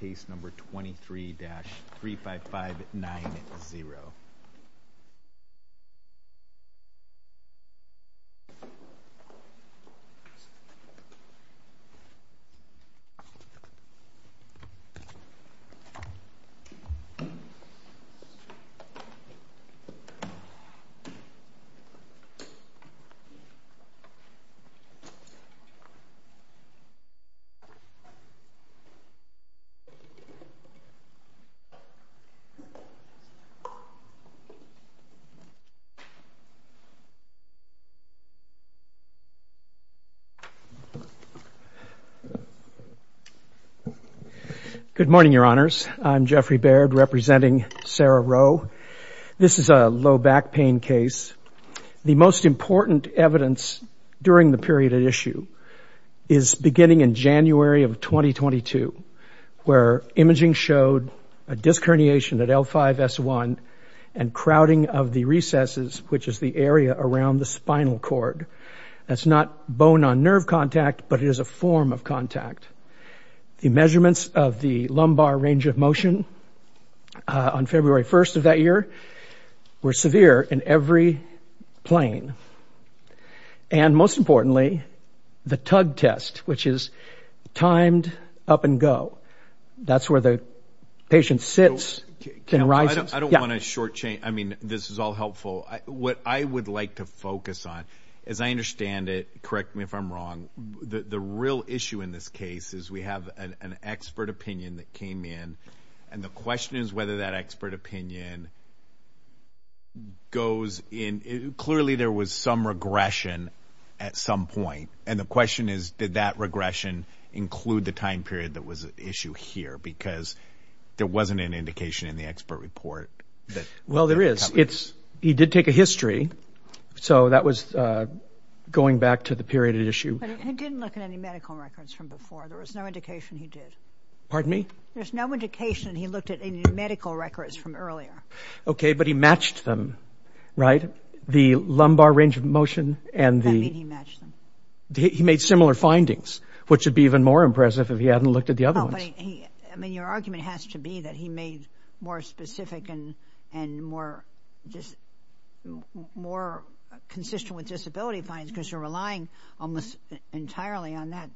case number 23-35590. Good morning, Your Honors. I'm Jeffrey Baird representing Sarah Rowe. This is a low back pain case. The most important evidence during the period at issue is beginning in January of 2022 where imaging showed a disc herniation at L5-S1 and crowding of the recesses, which is the area around the spinal cord. That's not bone-on-nerve contact, but it is a form of contact. The measurements of the lumbar range of motion on February 1st of that year were severe in every plane. And most importantly, the tug test, which is timed up and go. That's where the patient sits and rises. I don't want to shortchange. I mean, this is all helpful. What I would like to focus on, as I understand it, correct me if I'm wrong, the real issue in this case is we have an expert opinion that came in and the question is whether that expert opinion goes in. Clearly there was some regression at some point. And the question is, did that regression include the time period that was at issue here? Because there wasn't an indication in the expert report. Well there is. He did take a history, so that was going back to the period at issue. But he didn't look at any medical records from before. There was no indication he did. Pardon me? There's no indication he looked at any medical records from earlier. Okay, but he matched them, right? The lumbar range of motion and the... I don't mean he matched them. He made similar findings, which would be even more impressive if he hadn't looked at the other ones. I mean, your argument has to be that he made more specific and more consistent with disability finds because you're relying almost entirely on that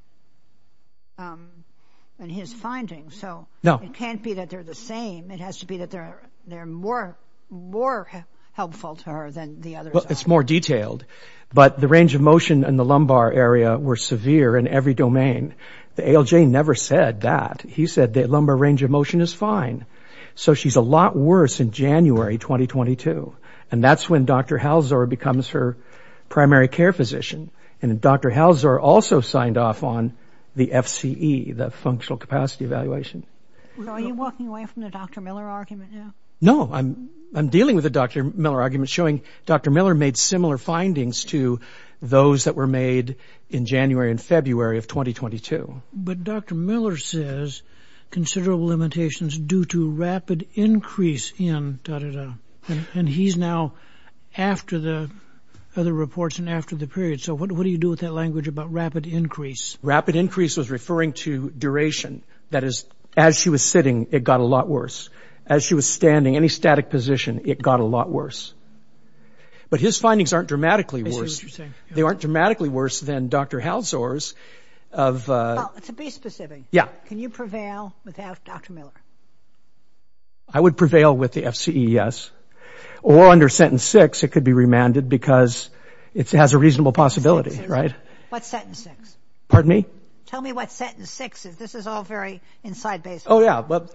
and his findings, so it can't be that they're the same. It has to be that they're more helpful to her than the others are. It's more detailed. But the range of motion and the lumbar area were severe in every domain. The ALJ never said that. He said the lumbar range of motion is fine. So she's a lot worse in January 2022. And that's when Dr. Halsor becomes her primary care physician, and Dr. Halsor also signed off on the FCE, the functional capacity evaluation. So are you walking away from the Dr. Miller argument now? No, I'm dealing with the Dr. Miller argument showing Dr. Miller made similar findings to those that were made in January and February of 2022. But Dr. Miller says considerable limitations due to rapid increase in... And he's now after the other reports and after the period. So what do you do with that language about rapid increase? Rapid increase was referring to duration. That is, as she was sitting, it got a lot worse. As she was standing, any static position, it got a lot worse. But his findings aren't dramatically worse. They aren't dramatically worse than Dr. Halsor's of... To be specific, can you prevail without Dr. Miller? I would prevail with the FCE, yes. Or under sentence six, it could be remanded because it has a reasonable possibility, right? What's sentence six? Pardon me? Tell me what sentence six is. This is all very inside-based. Oh, yeah. Well,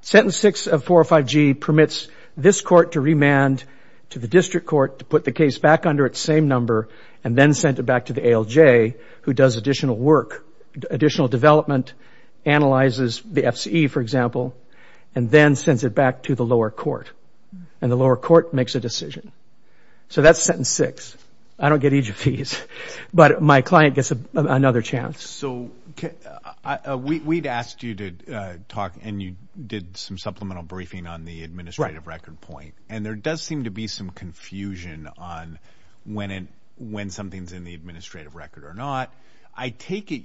sentence six of 405G permits this court to remand to the district court to put the fees back under its same number and then send it back to the ALJ, who does additional work, additional development, analyzes the FCE, for example, and then sends it back to the lower court. And the lower court makes a decision. So that's sentence six. I don't get each of these, but my client gets another chance. So we'd asked you to talk and you did some supplemental briefing on the administrative record point. And there does seem to be some confusion on when something's in the administrative record or not. I take it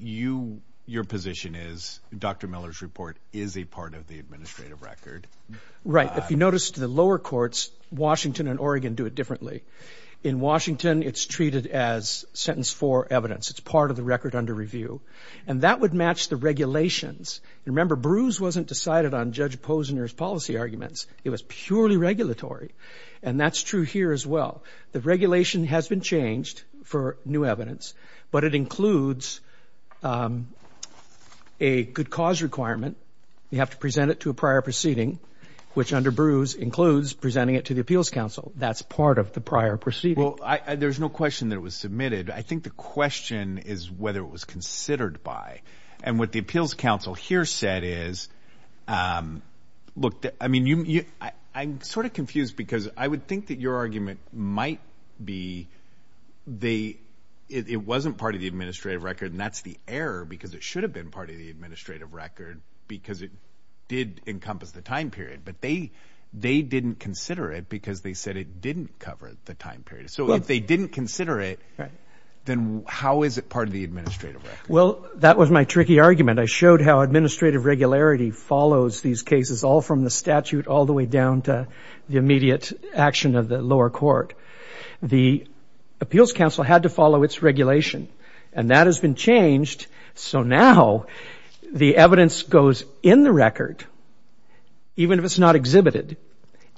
your position is Dr. Miller's report is a part of the administrative record. Right. If you notice to the lower courts, Washington and Oregon do it differently. In Washington, it's treated as sentence four evidence. It's part of the record under review. And that would match the regulations. Remember, Bruce wasn't decided on Judge Posner's policy arguments. It was purely regulatory. And that's true here as well. The regulation has been changed for new evidence, but it includes a good cause requirement. You have to present it to a prior proceeding, which under Bruce includes presenting it to the Appeals Council. That's part of the prior proceeding. There's no question that it was submitted. I think the question is whether it was considered by. And what the Appeals Council here said is, I'm sort of confused because I would think that your argument might be it wasn't part of the administrative record and that's the error because it should have been part of the administrative record because it did encompass the time period. But they didn't consider it because they said it didn't cover the time period. So if they didn't consider it, then how is it part of the administrative record? Well, that was my tricky argument. I showed how administrative regularity follows these cases all from the statute all the way down to the immediate action of the lower court. The Appeals Council had to follow its regulation. And that has been changed. So now the evidence goes in the record, even if it's not exhibited.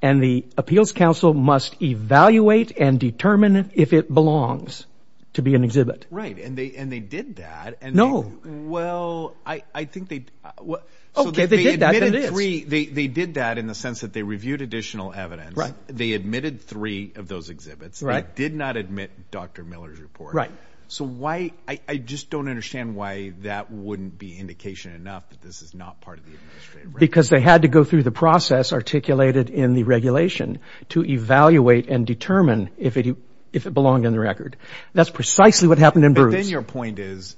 And the Appeals Council must evaluate and determine if it belongs to be an exhibit. Right. And they did that. No. Well, I think they did that in the sense that they reviewed additional evidence. They admitted three of those exhibits. They did not admit Dr. Miller's report. So I just don't understand why that wouldn't be indication enough that this is not part of the administrative record. Because they had to go through the process articulated in the regulation to evaluate and determine if it belonged in the record. That's precisely what happened in Bruce. But then your point is,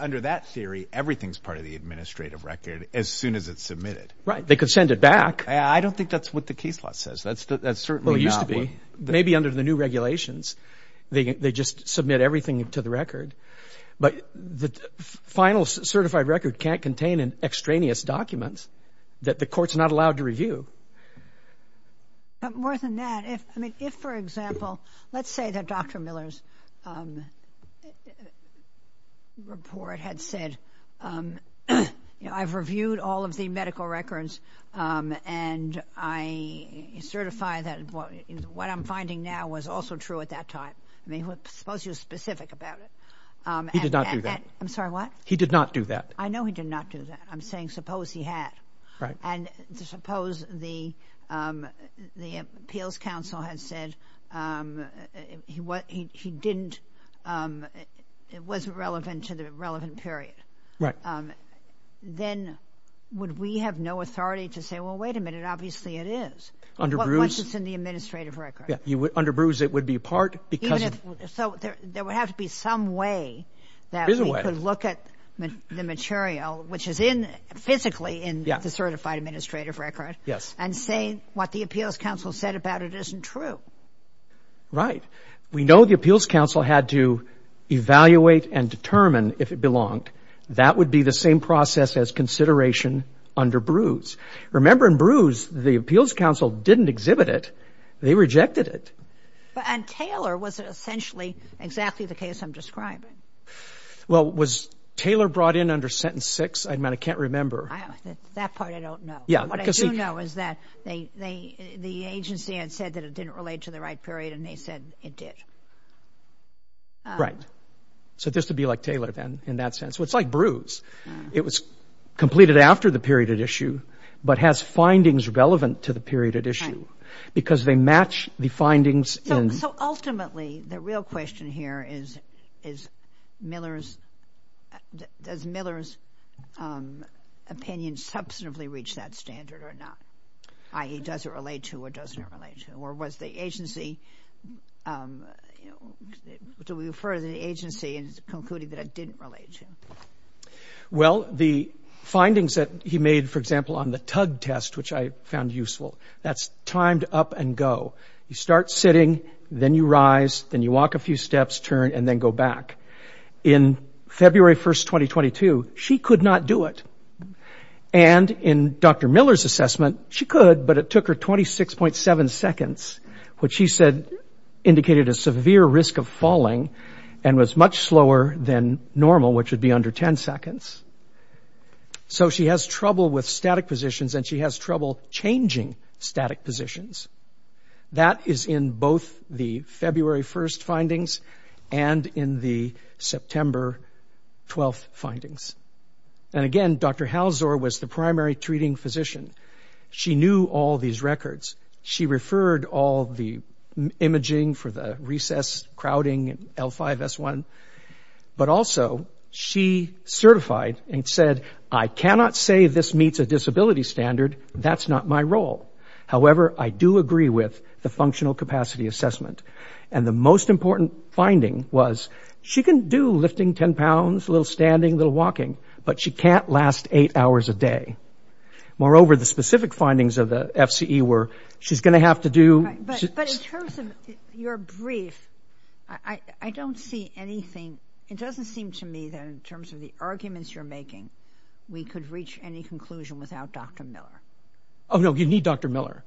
under that theory, everything's part of the administrative record as soon as it's submitted. Right. They could send it back. I don't think that's what the case law says. That's certainly not what... Maybe under the new regulations, they just submit everything to the record. But the final certified record can't contain extraneous documents that the court's not allowed to review. More than that, if, for example, let's say that Dr. Miller's report had said, I've reviewed all of the medical records and I certify that what I'm finding now was also true at that time. I mean, suppose he was specific about it. He did not do that. I'm sorry, what? He did not do that. I know he did not do that. I'm saying suppose he had. Right. And suppose the Appeals Council had said he didn't, it wasn't relevant to the relevant period. Right. Then would we have no authority to say, well, wait a minute, obviously it is. Under Bruce. Once it's in the administrative record. Yeah. Under Bruce, it would be part because... Even if, so there would have to be some way that we could look at the material, which is in physically in the certified administrative record. Yes. And say what the Appeals Council said about it isn't true. Right. We know the Appeals Council had to evaluate and determine if it belonged. That would be the same process as consideration under Bruce. Remember in Bruce, the Appeals Council didn't exhibit it, they rejected it. And Taylor was essentially exactly the case I'm describing. Well, was Taylor brought in under sentence six? I mean, I can't remember. That part I don't know. Yeah. What I do know is that they, the agency had said that it didn't relate to the right period and they said it did. Right. So this would be like Taylor then in that sense. It's like Bruce. It was completed after the period at issue, but has findings relevant to the period at issue because they match the findings in... So ultimately, the real question here is, is Miller's, does Miller's opinion substantively reach that standard or not, i.e., does it relate to or doesn't it relate to? Or was the agency, you know, do we refer to the agency in concluding that it didn't relate to? Well, the findings that he made, for example, on the tug test, which I found useful, that's timed up and go. You start sitting, then you rise, then you walk a few steps, turn, and then go back. In February 1st, 2022, she could not do it. And in Dr. Miller's assessment, she could, but it took her 26.7 seconds, which she said indicated a severe risk of falling and was much slower than normal, which would be under 10 seconds. So she has trouble with static positions and she has trouble changing static positions. That is in both the February 1st findings and in the September 12th findings. And again, Dr. Halsor was the primary treating physician. She knew all these records. She referred all the imaging for the recess, crowding, L5, S1. But also, she certified and said, I cannot say this meets a disability standard. That's not my role. However, I do agree with the functional capacity assessment. And the most important finding was, she can do lifting 10 pounds, a little standing, a little walking, but she can't last eight hours a day. Moreover, the specific findings of the FCE were, she's going to have to do... But in terms of your brief, I don't see anything. It doesn't seem to me that in terms of the arguments you're making, we could reach any conclusion without Dr. Miller. Oh, no. You need Dr. Miller.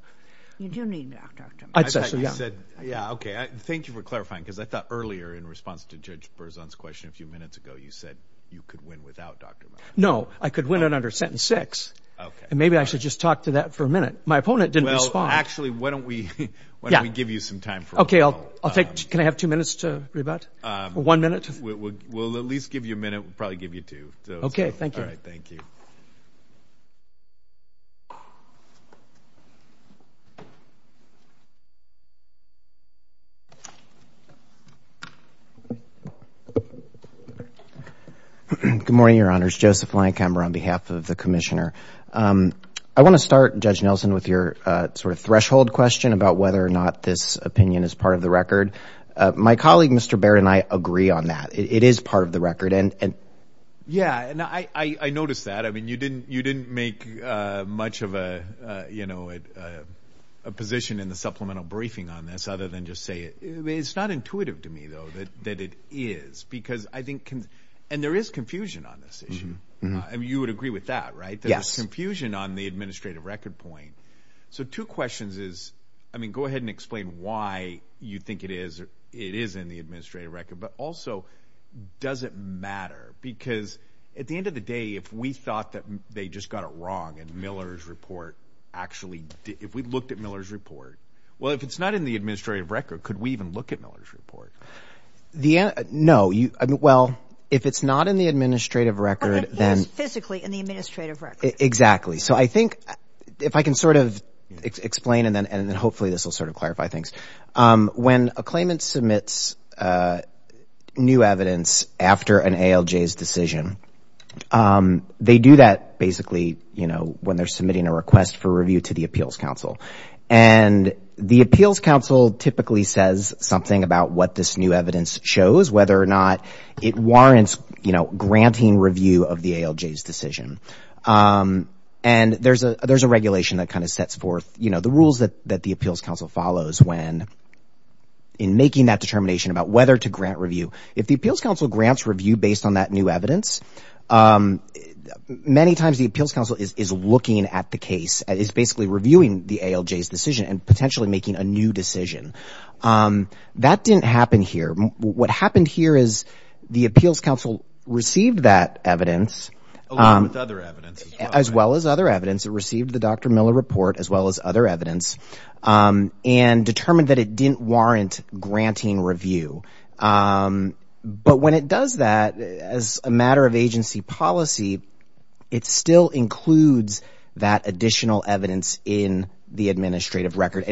You do need Dr. Miller. I thought you said... Yeah. Okay. Thank you for clarifying because I thought earlier in response to Judge Berzon's question a few minutes ago, you said you could win without Dr. Miller. No. I could win it under sentence six. Okay. And maybe I should just talk to that for a minute. My opponent didn't respond. Well, actually, why don't we... Yeah. Why don't we give you some time for a while? I'll take... Can I have two minutes to rebut? One minute? We'll at least give you a minute. We'll probably give you two. Okay. Thank you. All right. Thank you. Good morning, Your Honors. Joseph Leinkammer on behalf of the Commissioner. I want to start, Judge Nelson, with your sort of threshold question about whether or not this opinion is part of the record. My colleague, Mr. Baird, and I agree on that. It is part of the record. And... And I noticed that. I mean, you didn't make much of a position in the supplemental briefing on this other than just say it. I mean, it's not intuitive to me, though, that it is because I think... And there is confusion on this issue. You would agree with that, right? Yes. That there's confusion on the administrative record point. So, two questions is, I mean, go ahead and explain why you think it is in the administrative record. But also, does it matter? Because at the end of the day, if we thought that they just got it wrong and Miller's report actually did... If we looked at Miller's report, well, if it's not in the administrative record, could we even look at Miller's report? The... No. Well, if it's not in the administrative record, then... Exactly. So, I think if I can sort of explain and then hopefully this will sort of clarify things. When a claimant submits new evidence after an ALJ's decision, they do that basically, you know, when they're submitting a request for review to the Appeals Council. And the Appeals Council typically says something about what this new evidence shows, whether or not it warrants, you know, granting review of the ALJ's decision. And there's a regulation that kind of sets forth, you know, the rules that the Appeals Council follows when in making that determination about whether to grant review. If the Appeals Council grants review based on that new evidence, many times the Appeals Council is looking at the case, is basically reviewing the ALJ's decision and potentially making a new decision. That didn't happen here. What happened here is the Appeals Council received that evidence... Along with other evidence. As well as other evidence. It received the Dr. Miller report as well as other evidence and determined that it didn't warrant granting review. But when it does that, as a matter of agency policy, it still includes that additional evidence in the administrative record.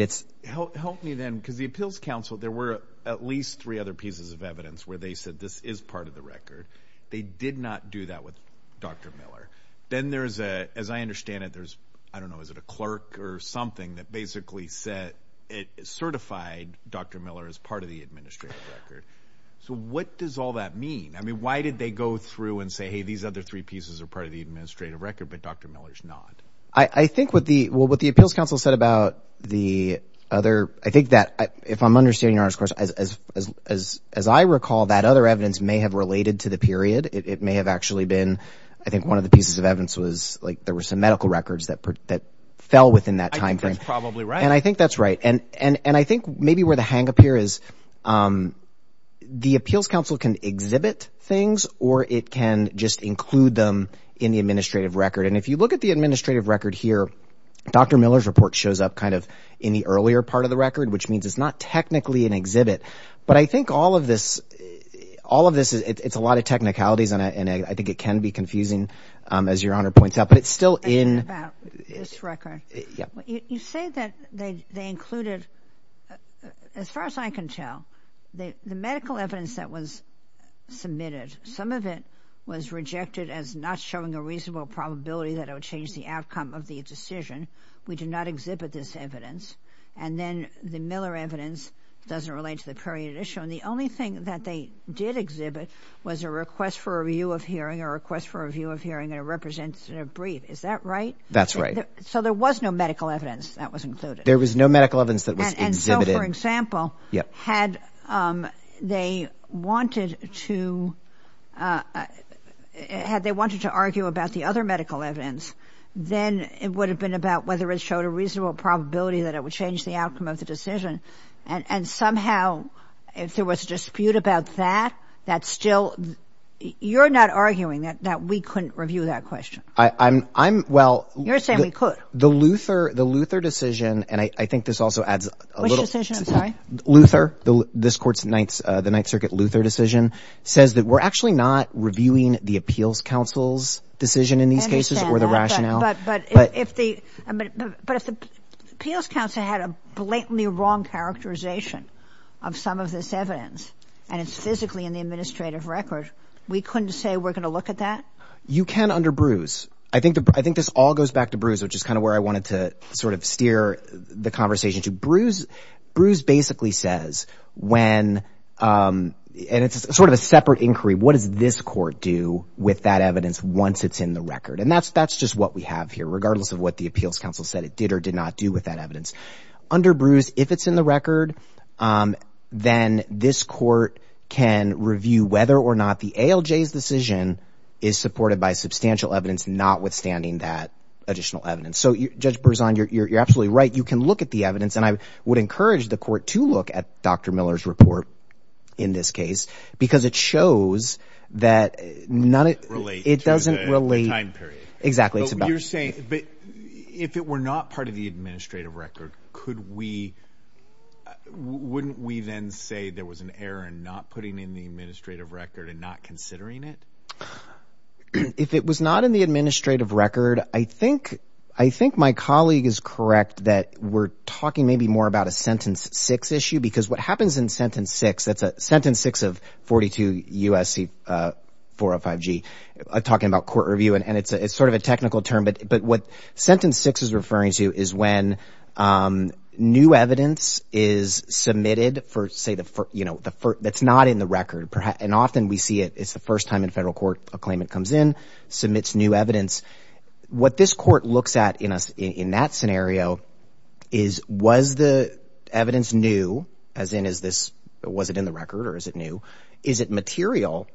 Help me then, because the Appeals Council, there were at least three other pieces of evidence where they said this is part of the record. They did not do that with Dr. Miller. Then there's a, as I understand it, there's, I don't know, is it a clerk or something that basically said it certified Dr. Miller as part of the administrative record. So what does all that mean? I mean, why did they go through and say, hey, these other three pieces are part of the administrative record, but Dr. Miller's not? I think what the, well, what the Appeals Council said about the other, I think that if I'm understanding your question, as I recall, that other evidence may have related to the period. It may have actually been, I think one of the pieces of evidence was like there were some medical records that fell within that timeframe. That's probably right. And I think that's right. And I think maybe where the hang up here is, the Appeals Council can exhibit things or it can just include them in the administrative record. And if you look at the administrative record here, Dr. Miller's report shows up kind of in the earlier part of the record, which means it's not technically an exhibit. But I think all of this, all of this, it's a lot of technicalities and I think it can be confusing, as your Honor points out, but it's still in. About this record. Yeah. You say that they included, as far as I can tell, the medical evidence that was submitted, some of it was rejected as not showing a reasonable probability that it would change the outcome of the decision. We do not exhibit this evidence. And then the Miller evidence doesn't relate to the period issue. And the only thing that they did exhibit was a request for a review of hearing, a request for a review of hearing and a representative brief. Is that right? That's right. So there was no medical evidence that was included. There was no medical evidence that was exhibited. So, for example, had they wanted to, had they wanted to argue about the other medical evidence, then it would have been about whether it showed a reasonable probability that it would change the outcome of the decision. And somehow, if there was a dispute about that, that's still, you're not arguing that we couldn't review that question. I'm, I'm, well. You're saying we could. The Luther, the Luther decision, and I think this also adds a little. Luther, this Court's Ninth, the Ninth Circuit Luther decision, says that we're actually not reviewing the Appeals Council's decision in these cases or the rationale. But if the, but if the Appeals Council had a blatantly wrong characterization of some of this evidence and it's physically in the administrative record, we couldn't say we're going to look at that? You can under Bruce. I think, I think this all goes back to Bruce, which is kind of where I wanted to sort of hear the conversation to. Bruce, Bruce basically says when, and it's sort of a separate inquiry, what does this Court do with that evidence once it's in the record? And that's, that's just what we have here, regardless of what the Appeals Council said it did or did not do with that evidence. Under Bruce, if it's in the record, then this Court can review whether or not the ALJ's decision is supported by substantial evidence notwithstanding that additional evidence. So Judge Berzon, you're, you're, you're absolutely right. You can look at the evidence and I would encourage the Court to look at Dr. Miller's report in this case because it shows that none of it, it doesn't relate, exactly. It's about, you're saying, but if it were not part of the administrative record, could we, wouldn't we then say there was an error in not putting in the administrative record and not considering it? If it was not in the administrative record, I think, I think my colleague is correct that we're talking maybe more about a sentence six issue because what happens in sentence six, that's a sentence six of 42 U.S.C. 405G, talking about court review, and it's a, it's sort of a technical term, but, but what sentence six is referring to is when new evidence is submitted for, say, the, you know, the first, that's not in the record, and often we see it, it's the first time in federal court a claimant comes in, submits new evidence. What this court looks at in a, in that scenario is, was the evidence new, as in, is this, was it in the record or is it new? Is it material?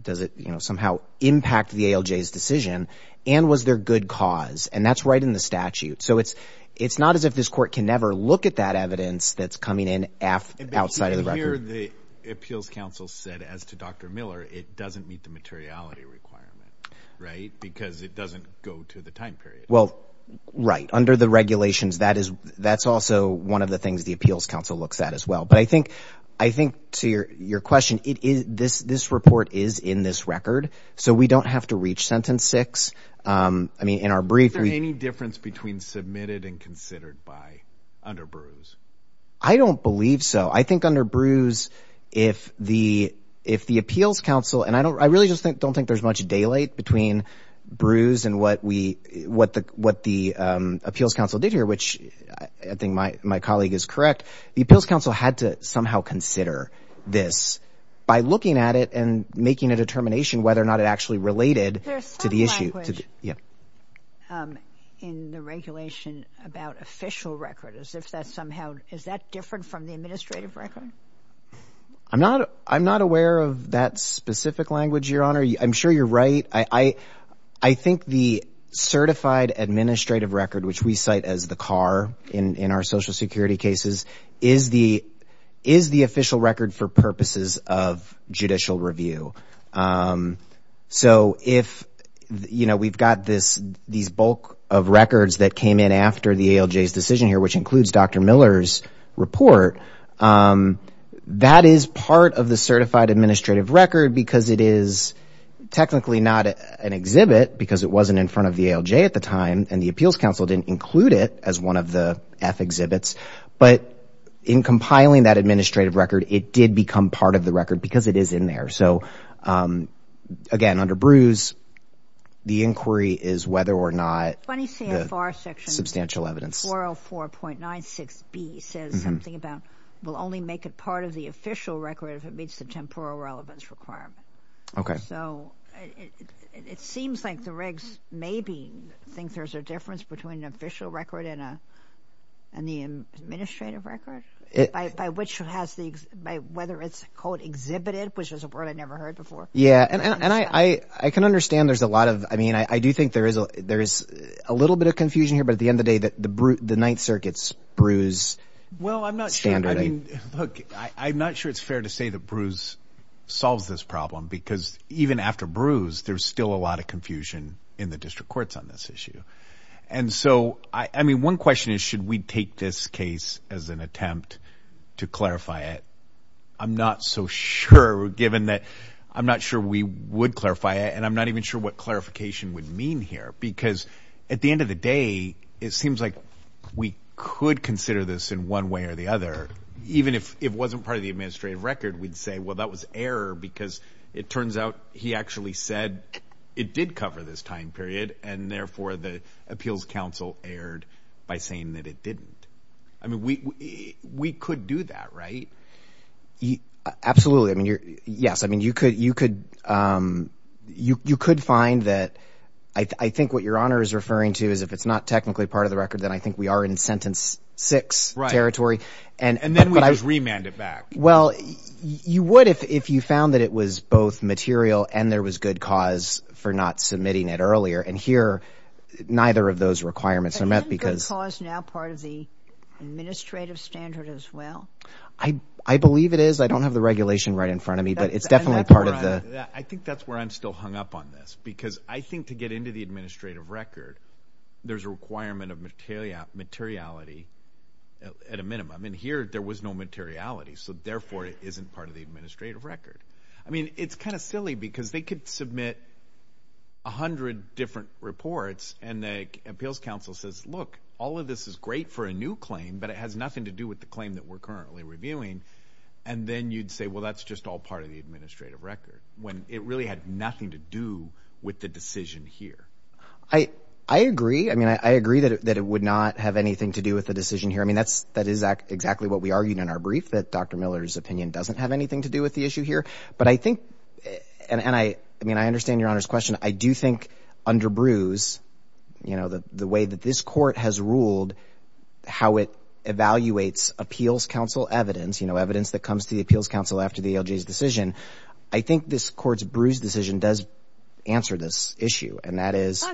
Does it, you know, somehow impact the ALJ's decision and was there good cause? And that's right in the statute. So it's, it's not as if this court can never look at that evidence that's coming in outside of the record. But under the Appeals Council said, as to Dr. Miller, it doesn't meet the materiality requirement, right? Because it doesn't go to the time period. Well, right. Under the regulations, that is, that's also one of the things the Appeals Council looks at as well. But I think, I think to your, your question, it is, this, this report is in this record, so we don't have to reach sentence six. I mean, in our brief, we, is there any difference between submitted and considered by, under Bruce? I don't believe so. I think under Bruce, if the, if the Appeals Council, and I don't, I really just don't think there's much daylight between Bruce and what we, what the, what the Appeals Council did here, which I think my, my colleague is correct, the Appeals Council had to somehow consider this by looking at it and making a determination whether or not it actually related to the issue. There's some language in the regulation about official record, as if that somehow, is that different from the administrative record? I'm not, I'm not aware of that specific language, Your Honor. I'm sure you're right. I, I, I think the certified administrative record, which we cite as the CAR in, in our Social Security cases, is the, is the official record for purposes of judicial review. So if, you know, we've got this, these bulk of records that came in after the ALJ's decision here, which includes Dr. Miller's report, that is part of the certified administrative record because it is technically not an exhibit, because it wasn't in front of the ALJ at the time, and the Appeals Council didn't include it as one of the F exhibits. But in compiling that administrative record, it did become part of the record because it is in there. So again, under Bruce, the inquiry is whether or not the substantial evidence. 404.96B says something about, will only make it part of the official record if it meets the temporal relevance requirement. Okay. So it, it, it seems like the regs maybe think there's a difference between an official record and a, and the administrative record, by, by which has the, by whether it's called exhibited, which is a word I never heard before. Yeah. And, and I, I can understand there's a lot of, I mean, I, I do think there is a, there is a little bit of confusion here, but at the end of the day that the, the Ninth Circuit's Bruce standard. Well, I'm not sure. I mean, look, I, I'm not sure it's fair to say that Bruce solves this problem because even after Bruce, there's still a lot of confusion in the district courts on this issue. And so I, I mean, one question is, should we take this case as an attempt to clarify it? I'm not so sure, given that I'm not sure we would clarify it, and I'm not even sure what clarification would mean here, because at the end of the day, it seems like we could consider this in one way or the other, even if it wasn't part of the administrative record, we'd say, well, that was error because it turns out he actually said it did cover this time period and therefore the appeals council erred by saying that it didn't. I mean, we, we could do that, right? Absolutely. I mean, you're, yes. I mean, you could, you could, you, you could find that, I think what your honor is referring to is if it's not technically part of the record, then I think we are in sentence six territory. And then we just remand it back. Well, you would if, if you found that it was both material and there was good cause for not submitting it earlier. And here, neither of those requirements are met because- Isn't good cause now part of the administrative standard as well? I believe it is. I don't have the regulation right in front of me, but it's definitely part of the- I think that's where I'm still hung up on this because I think to get into the administrative record, there's a requirement of materiality at a minimum and here there was no materiality. So therefore it isn't part of the administrative record. I mean, it's kind of silly because they could submit a hundred different reports and the appeals council says, look, all of this is great for a new claim, but it has nothing to do with the claim that we're currently reviewing. And then you'd say, well, that's just all part of the administrative record when it really had nothing to do with the decision here. I, I agree. I mean, I, I agree that, that it would not have anything to do with the decision here. I mean, that's, that is exactly what we argued in our brief that Dr. Miller's opinion doesn't have anything to do with the issue here. But I think, and I, I mean, I understand your honor's question. I do think under brews, you know, the, the way that this court has ruled, how it evaluates appeals council evidence, you know, evidence that comes to the appeals council after the LG's decision. I think this court's brews decision does answer this issue. And that is,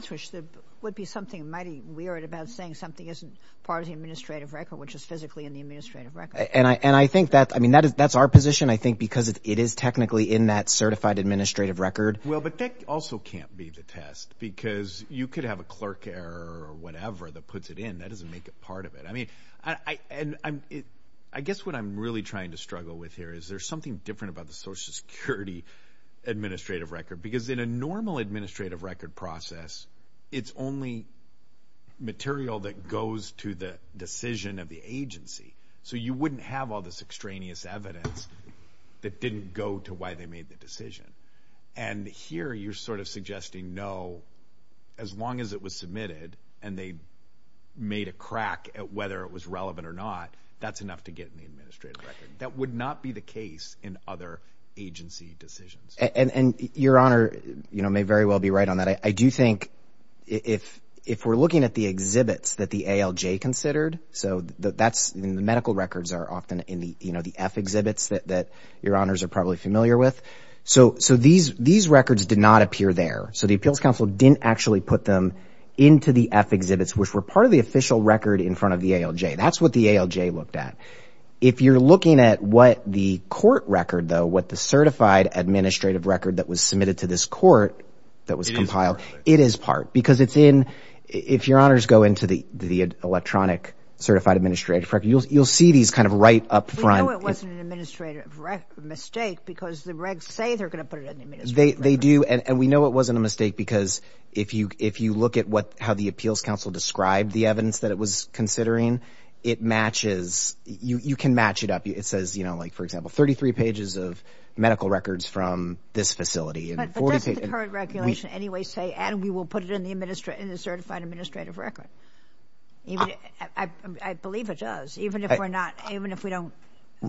would be something mighty weird about saying something isn't part of the administrative record, which is physically in the administrative record. And I, and I think that, I mean, that is, that's our position, I think, because it is technically in that certified administrative record. Well, but that also can't be the test because you could have a clerk error or whatever that puts it in. That doesn't make it part of it. I mean, I, and I'm, it, I guess what I'm really trying to struggle with here is there's something different about the social security administrative record. Because in a normal administrative record process, it's only material that goes to the decision of the agency. So you wouldn't have all this extraneous evidence that didn't go to why they made the decision. And here you're sort of suggesting no, as long as it was submitted and they made a crack whether it was relevant or not, that's enough to get in the administrative record. That would not be the case in other agency decisions. And, and your honor, you know, may very well be right on that. I do think if, if we're looking at the exhibits that the ALJ considered, so that's in the medical records are often in the, you know, the F exhibits that, that your honors are probably familiar with. So, so these, these records did not appear there. So the appeals council didn't actually put them into the F exhibits, which were part of the official record in front of the ALJ. That's what the ALJ looked at. If you're looking at what the court record though, what the certified administrative record that was submitted to this court that was compiled, it is part because it's in, if your honors go into the, the electronic certified administrative record, you'll, you'll see these kind of right up front. We know it wasn't an administrative mistake because the regs say they're going to put it in the administrative record. They do. And we know it wasn't a mistake because if you, if you look at what, how the appeals council described the evidence that it was considering, it matches, you, you can match it up. It says, you know, like for example, 33 pages of medical records from this facility. But that's what the current regulation anyway say, and we will put it in the administrative, in the certified administrative record. Even, I believe it does, even if we're not, even if we don't.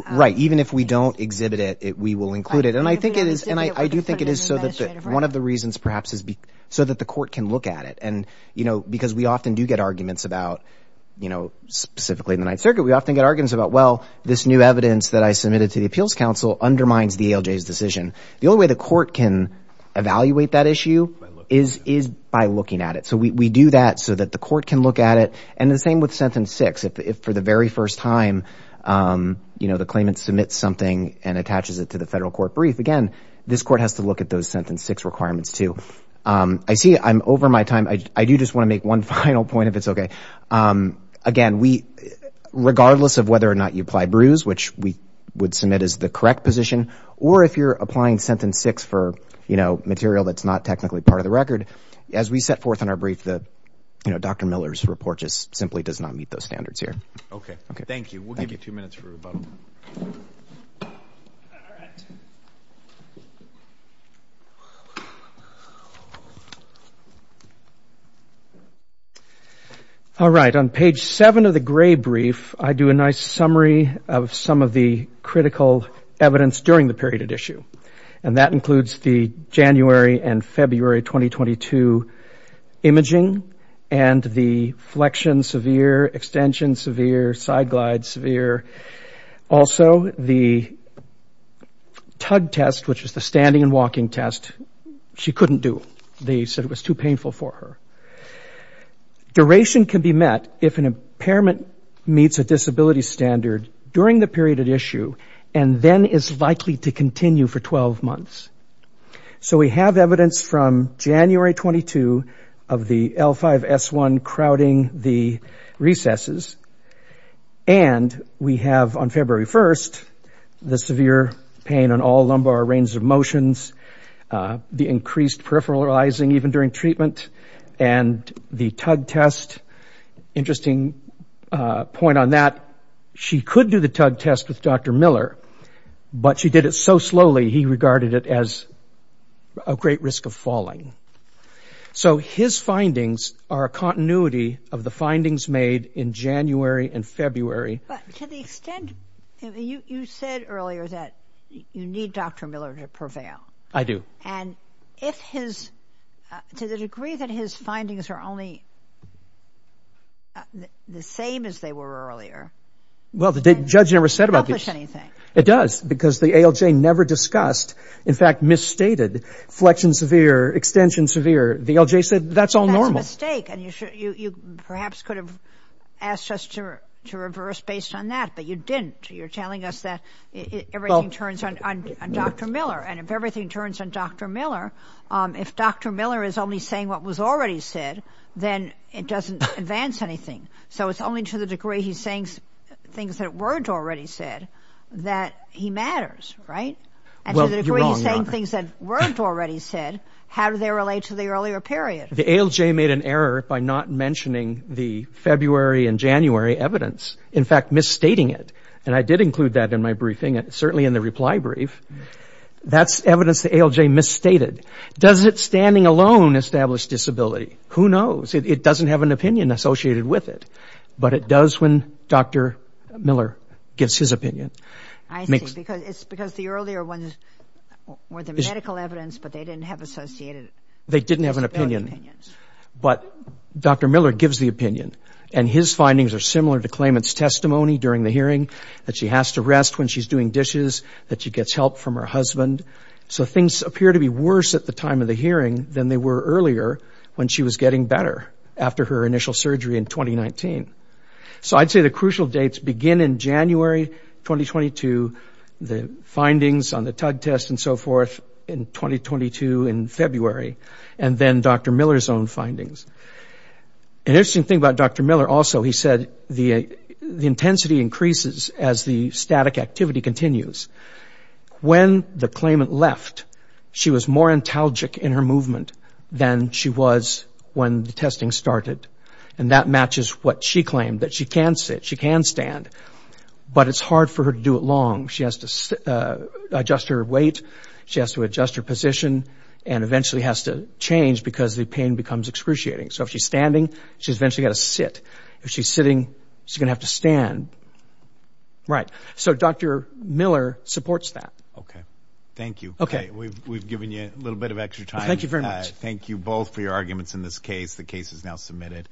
Right. Even if we don't exhibit it, we will include it. And I think it is, and I do think it is so that one of the reasons perhaps is so that the court can look at it and, you know, because we often do get arguments about, you know, specifically in the ninth circuit, we often get arguments about, well, this new evidence that I submitted to the appeals council undermines the ALJ's decision. The only way the court can evaluate that issue is, is by looking at it. So we, we do that so that the court can look at it. And the same with sentence six, if, if for the very first time, you know, the claimant submits something and attaches it to the federal court brief. Again, this court has to look at those sentence six requirements too. I see I'm over my time. I do just want to make one final point, if it's okay. Again, we, regardless of whether or not you apply brews, which we would submit as the correct position, or if you're applying sentence six for, you know, material that's not technically part of the record, as we set forth in our brief, the, you know, Dr. Miller's report just simply does not meet those standards here. Okay. Thank you. We'll give you two minutes for rebuttal. All right. On page seven of the gray brief, I do a nice summary of some of the critical evidence during the period at issue. And that includes the January and February, 2022 imaging and the flexion, severe extension, severe side glides, severe. Also the tug test, which is the standing and walking test she couldn't do. They said it was too painful for her. Duration can be met if an impairment meets a disability standard during the period at issue, and then is likely to continue for 12 months. So we have evidence from January, 2022 of the L5 S1 crowding the recesses. And we have on February 1st, the severe pain on all lumbar range of motions, the increased peripheralizing even during treatment and the tug test. Interesting point on that. She could do the tug test with Dr. Miller, but she did it so slowly. He regarded it as a great risk of falling. So his findings are a continuity of the findings made in January and February. But to the extent you said earlier that you need Dr. Miller to prevail. I do. And if his to the degree that his findings are only the same as they were earlier. Well, the judge never said about anything. It does because the ALJ never discussed. In fact, misstated flexion, severe extension, severe. The ALJ said that's all normal mistake. And you perhaps could have asked us to reverse based on that. But you didn't. You're telling us that everything turns on Dr. Miller and if everything turns on Dr. Miller, if Dr. Miller is only saying what was already said, then it doesn't advance anything. So it's only to the degree he's saying things that weren't already said that he matters, right? And to the degree he's saying things that weren't already said, how do they relate to the earlier period? The ALJ made an error by not mentioning the February and January evidence. In fact, misstating it. And I did include that in my briefing, certainly in the reply brief. That's evidence the ALJ misstated. Does it standing alone establish disability? Who knows? It doesn't have an opinion associated with it. But it does when Dr. Miller gives his opinion. I think because it's because the earlier ones were the medical evidence, but they didn't have associated. They didn't have an opinion, but Dr. Miller gives the opinion and his findings are similar to claimant's testimony during the hearing that she has to rest when she's doing dishes, that she gets help from her husband. So things appear to be worse at the time of the hearing than they were earlier when she was getting better after her initial surgery in 2019. So I'd say the crucial dates begin in January 2022, the findings on the tug test and so forth in 2022 in February, and then Dr. Miller's own findings. An interesting thing about Dr. Miller also, he said the intensity increases as the static activity continues. When the claimant left, she was more antalgic in her movement than she was when the testing started. And that matches what she claimed, that she can sit, she can stand, but it's hard for her to do it long. She has to adjust her weight. She has to adjust her position and eventually has to change because the pain becomes excruciating. So if she's standing, she's eventually got to sit. If she's sitting, she's going to have to stand. Right. So Dr. Miller supports that. OK, thank you. OK, we've given you a little bit of extra time. Thank you very much. Thank you both for your arguments in this case. The case is now submitted.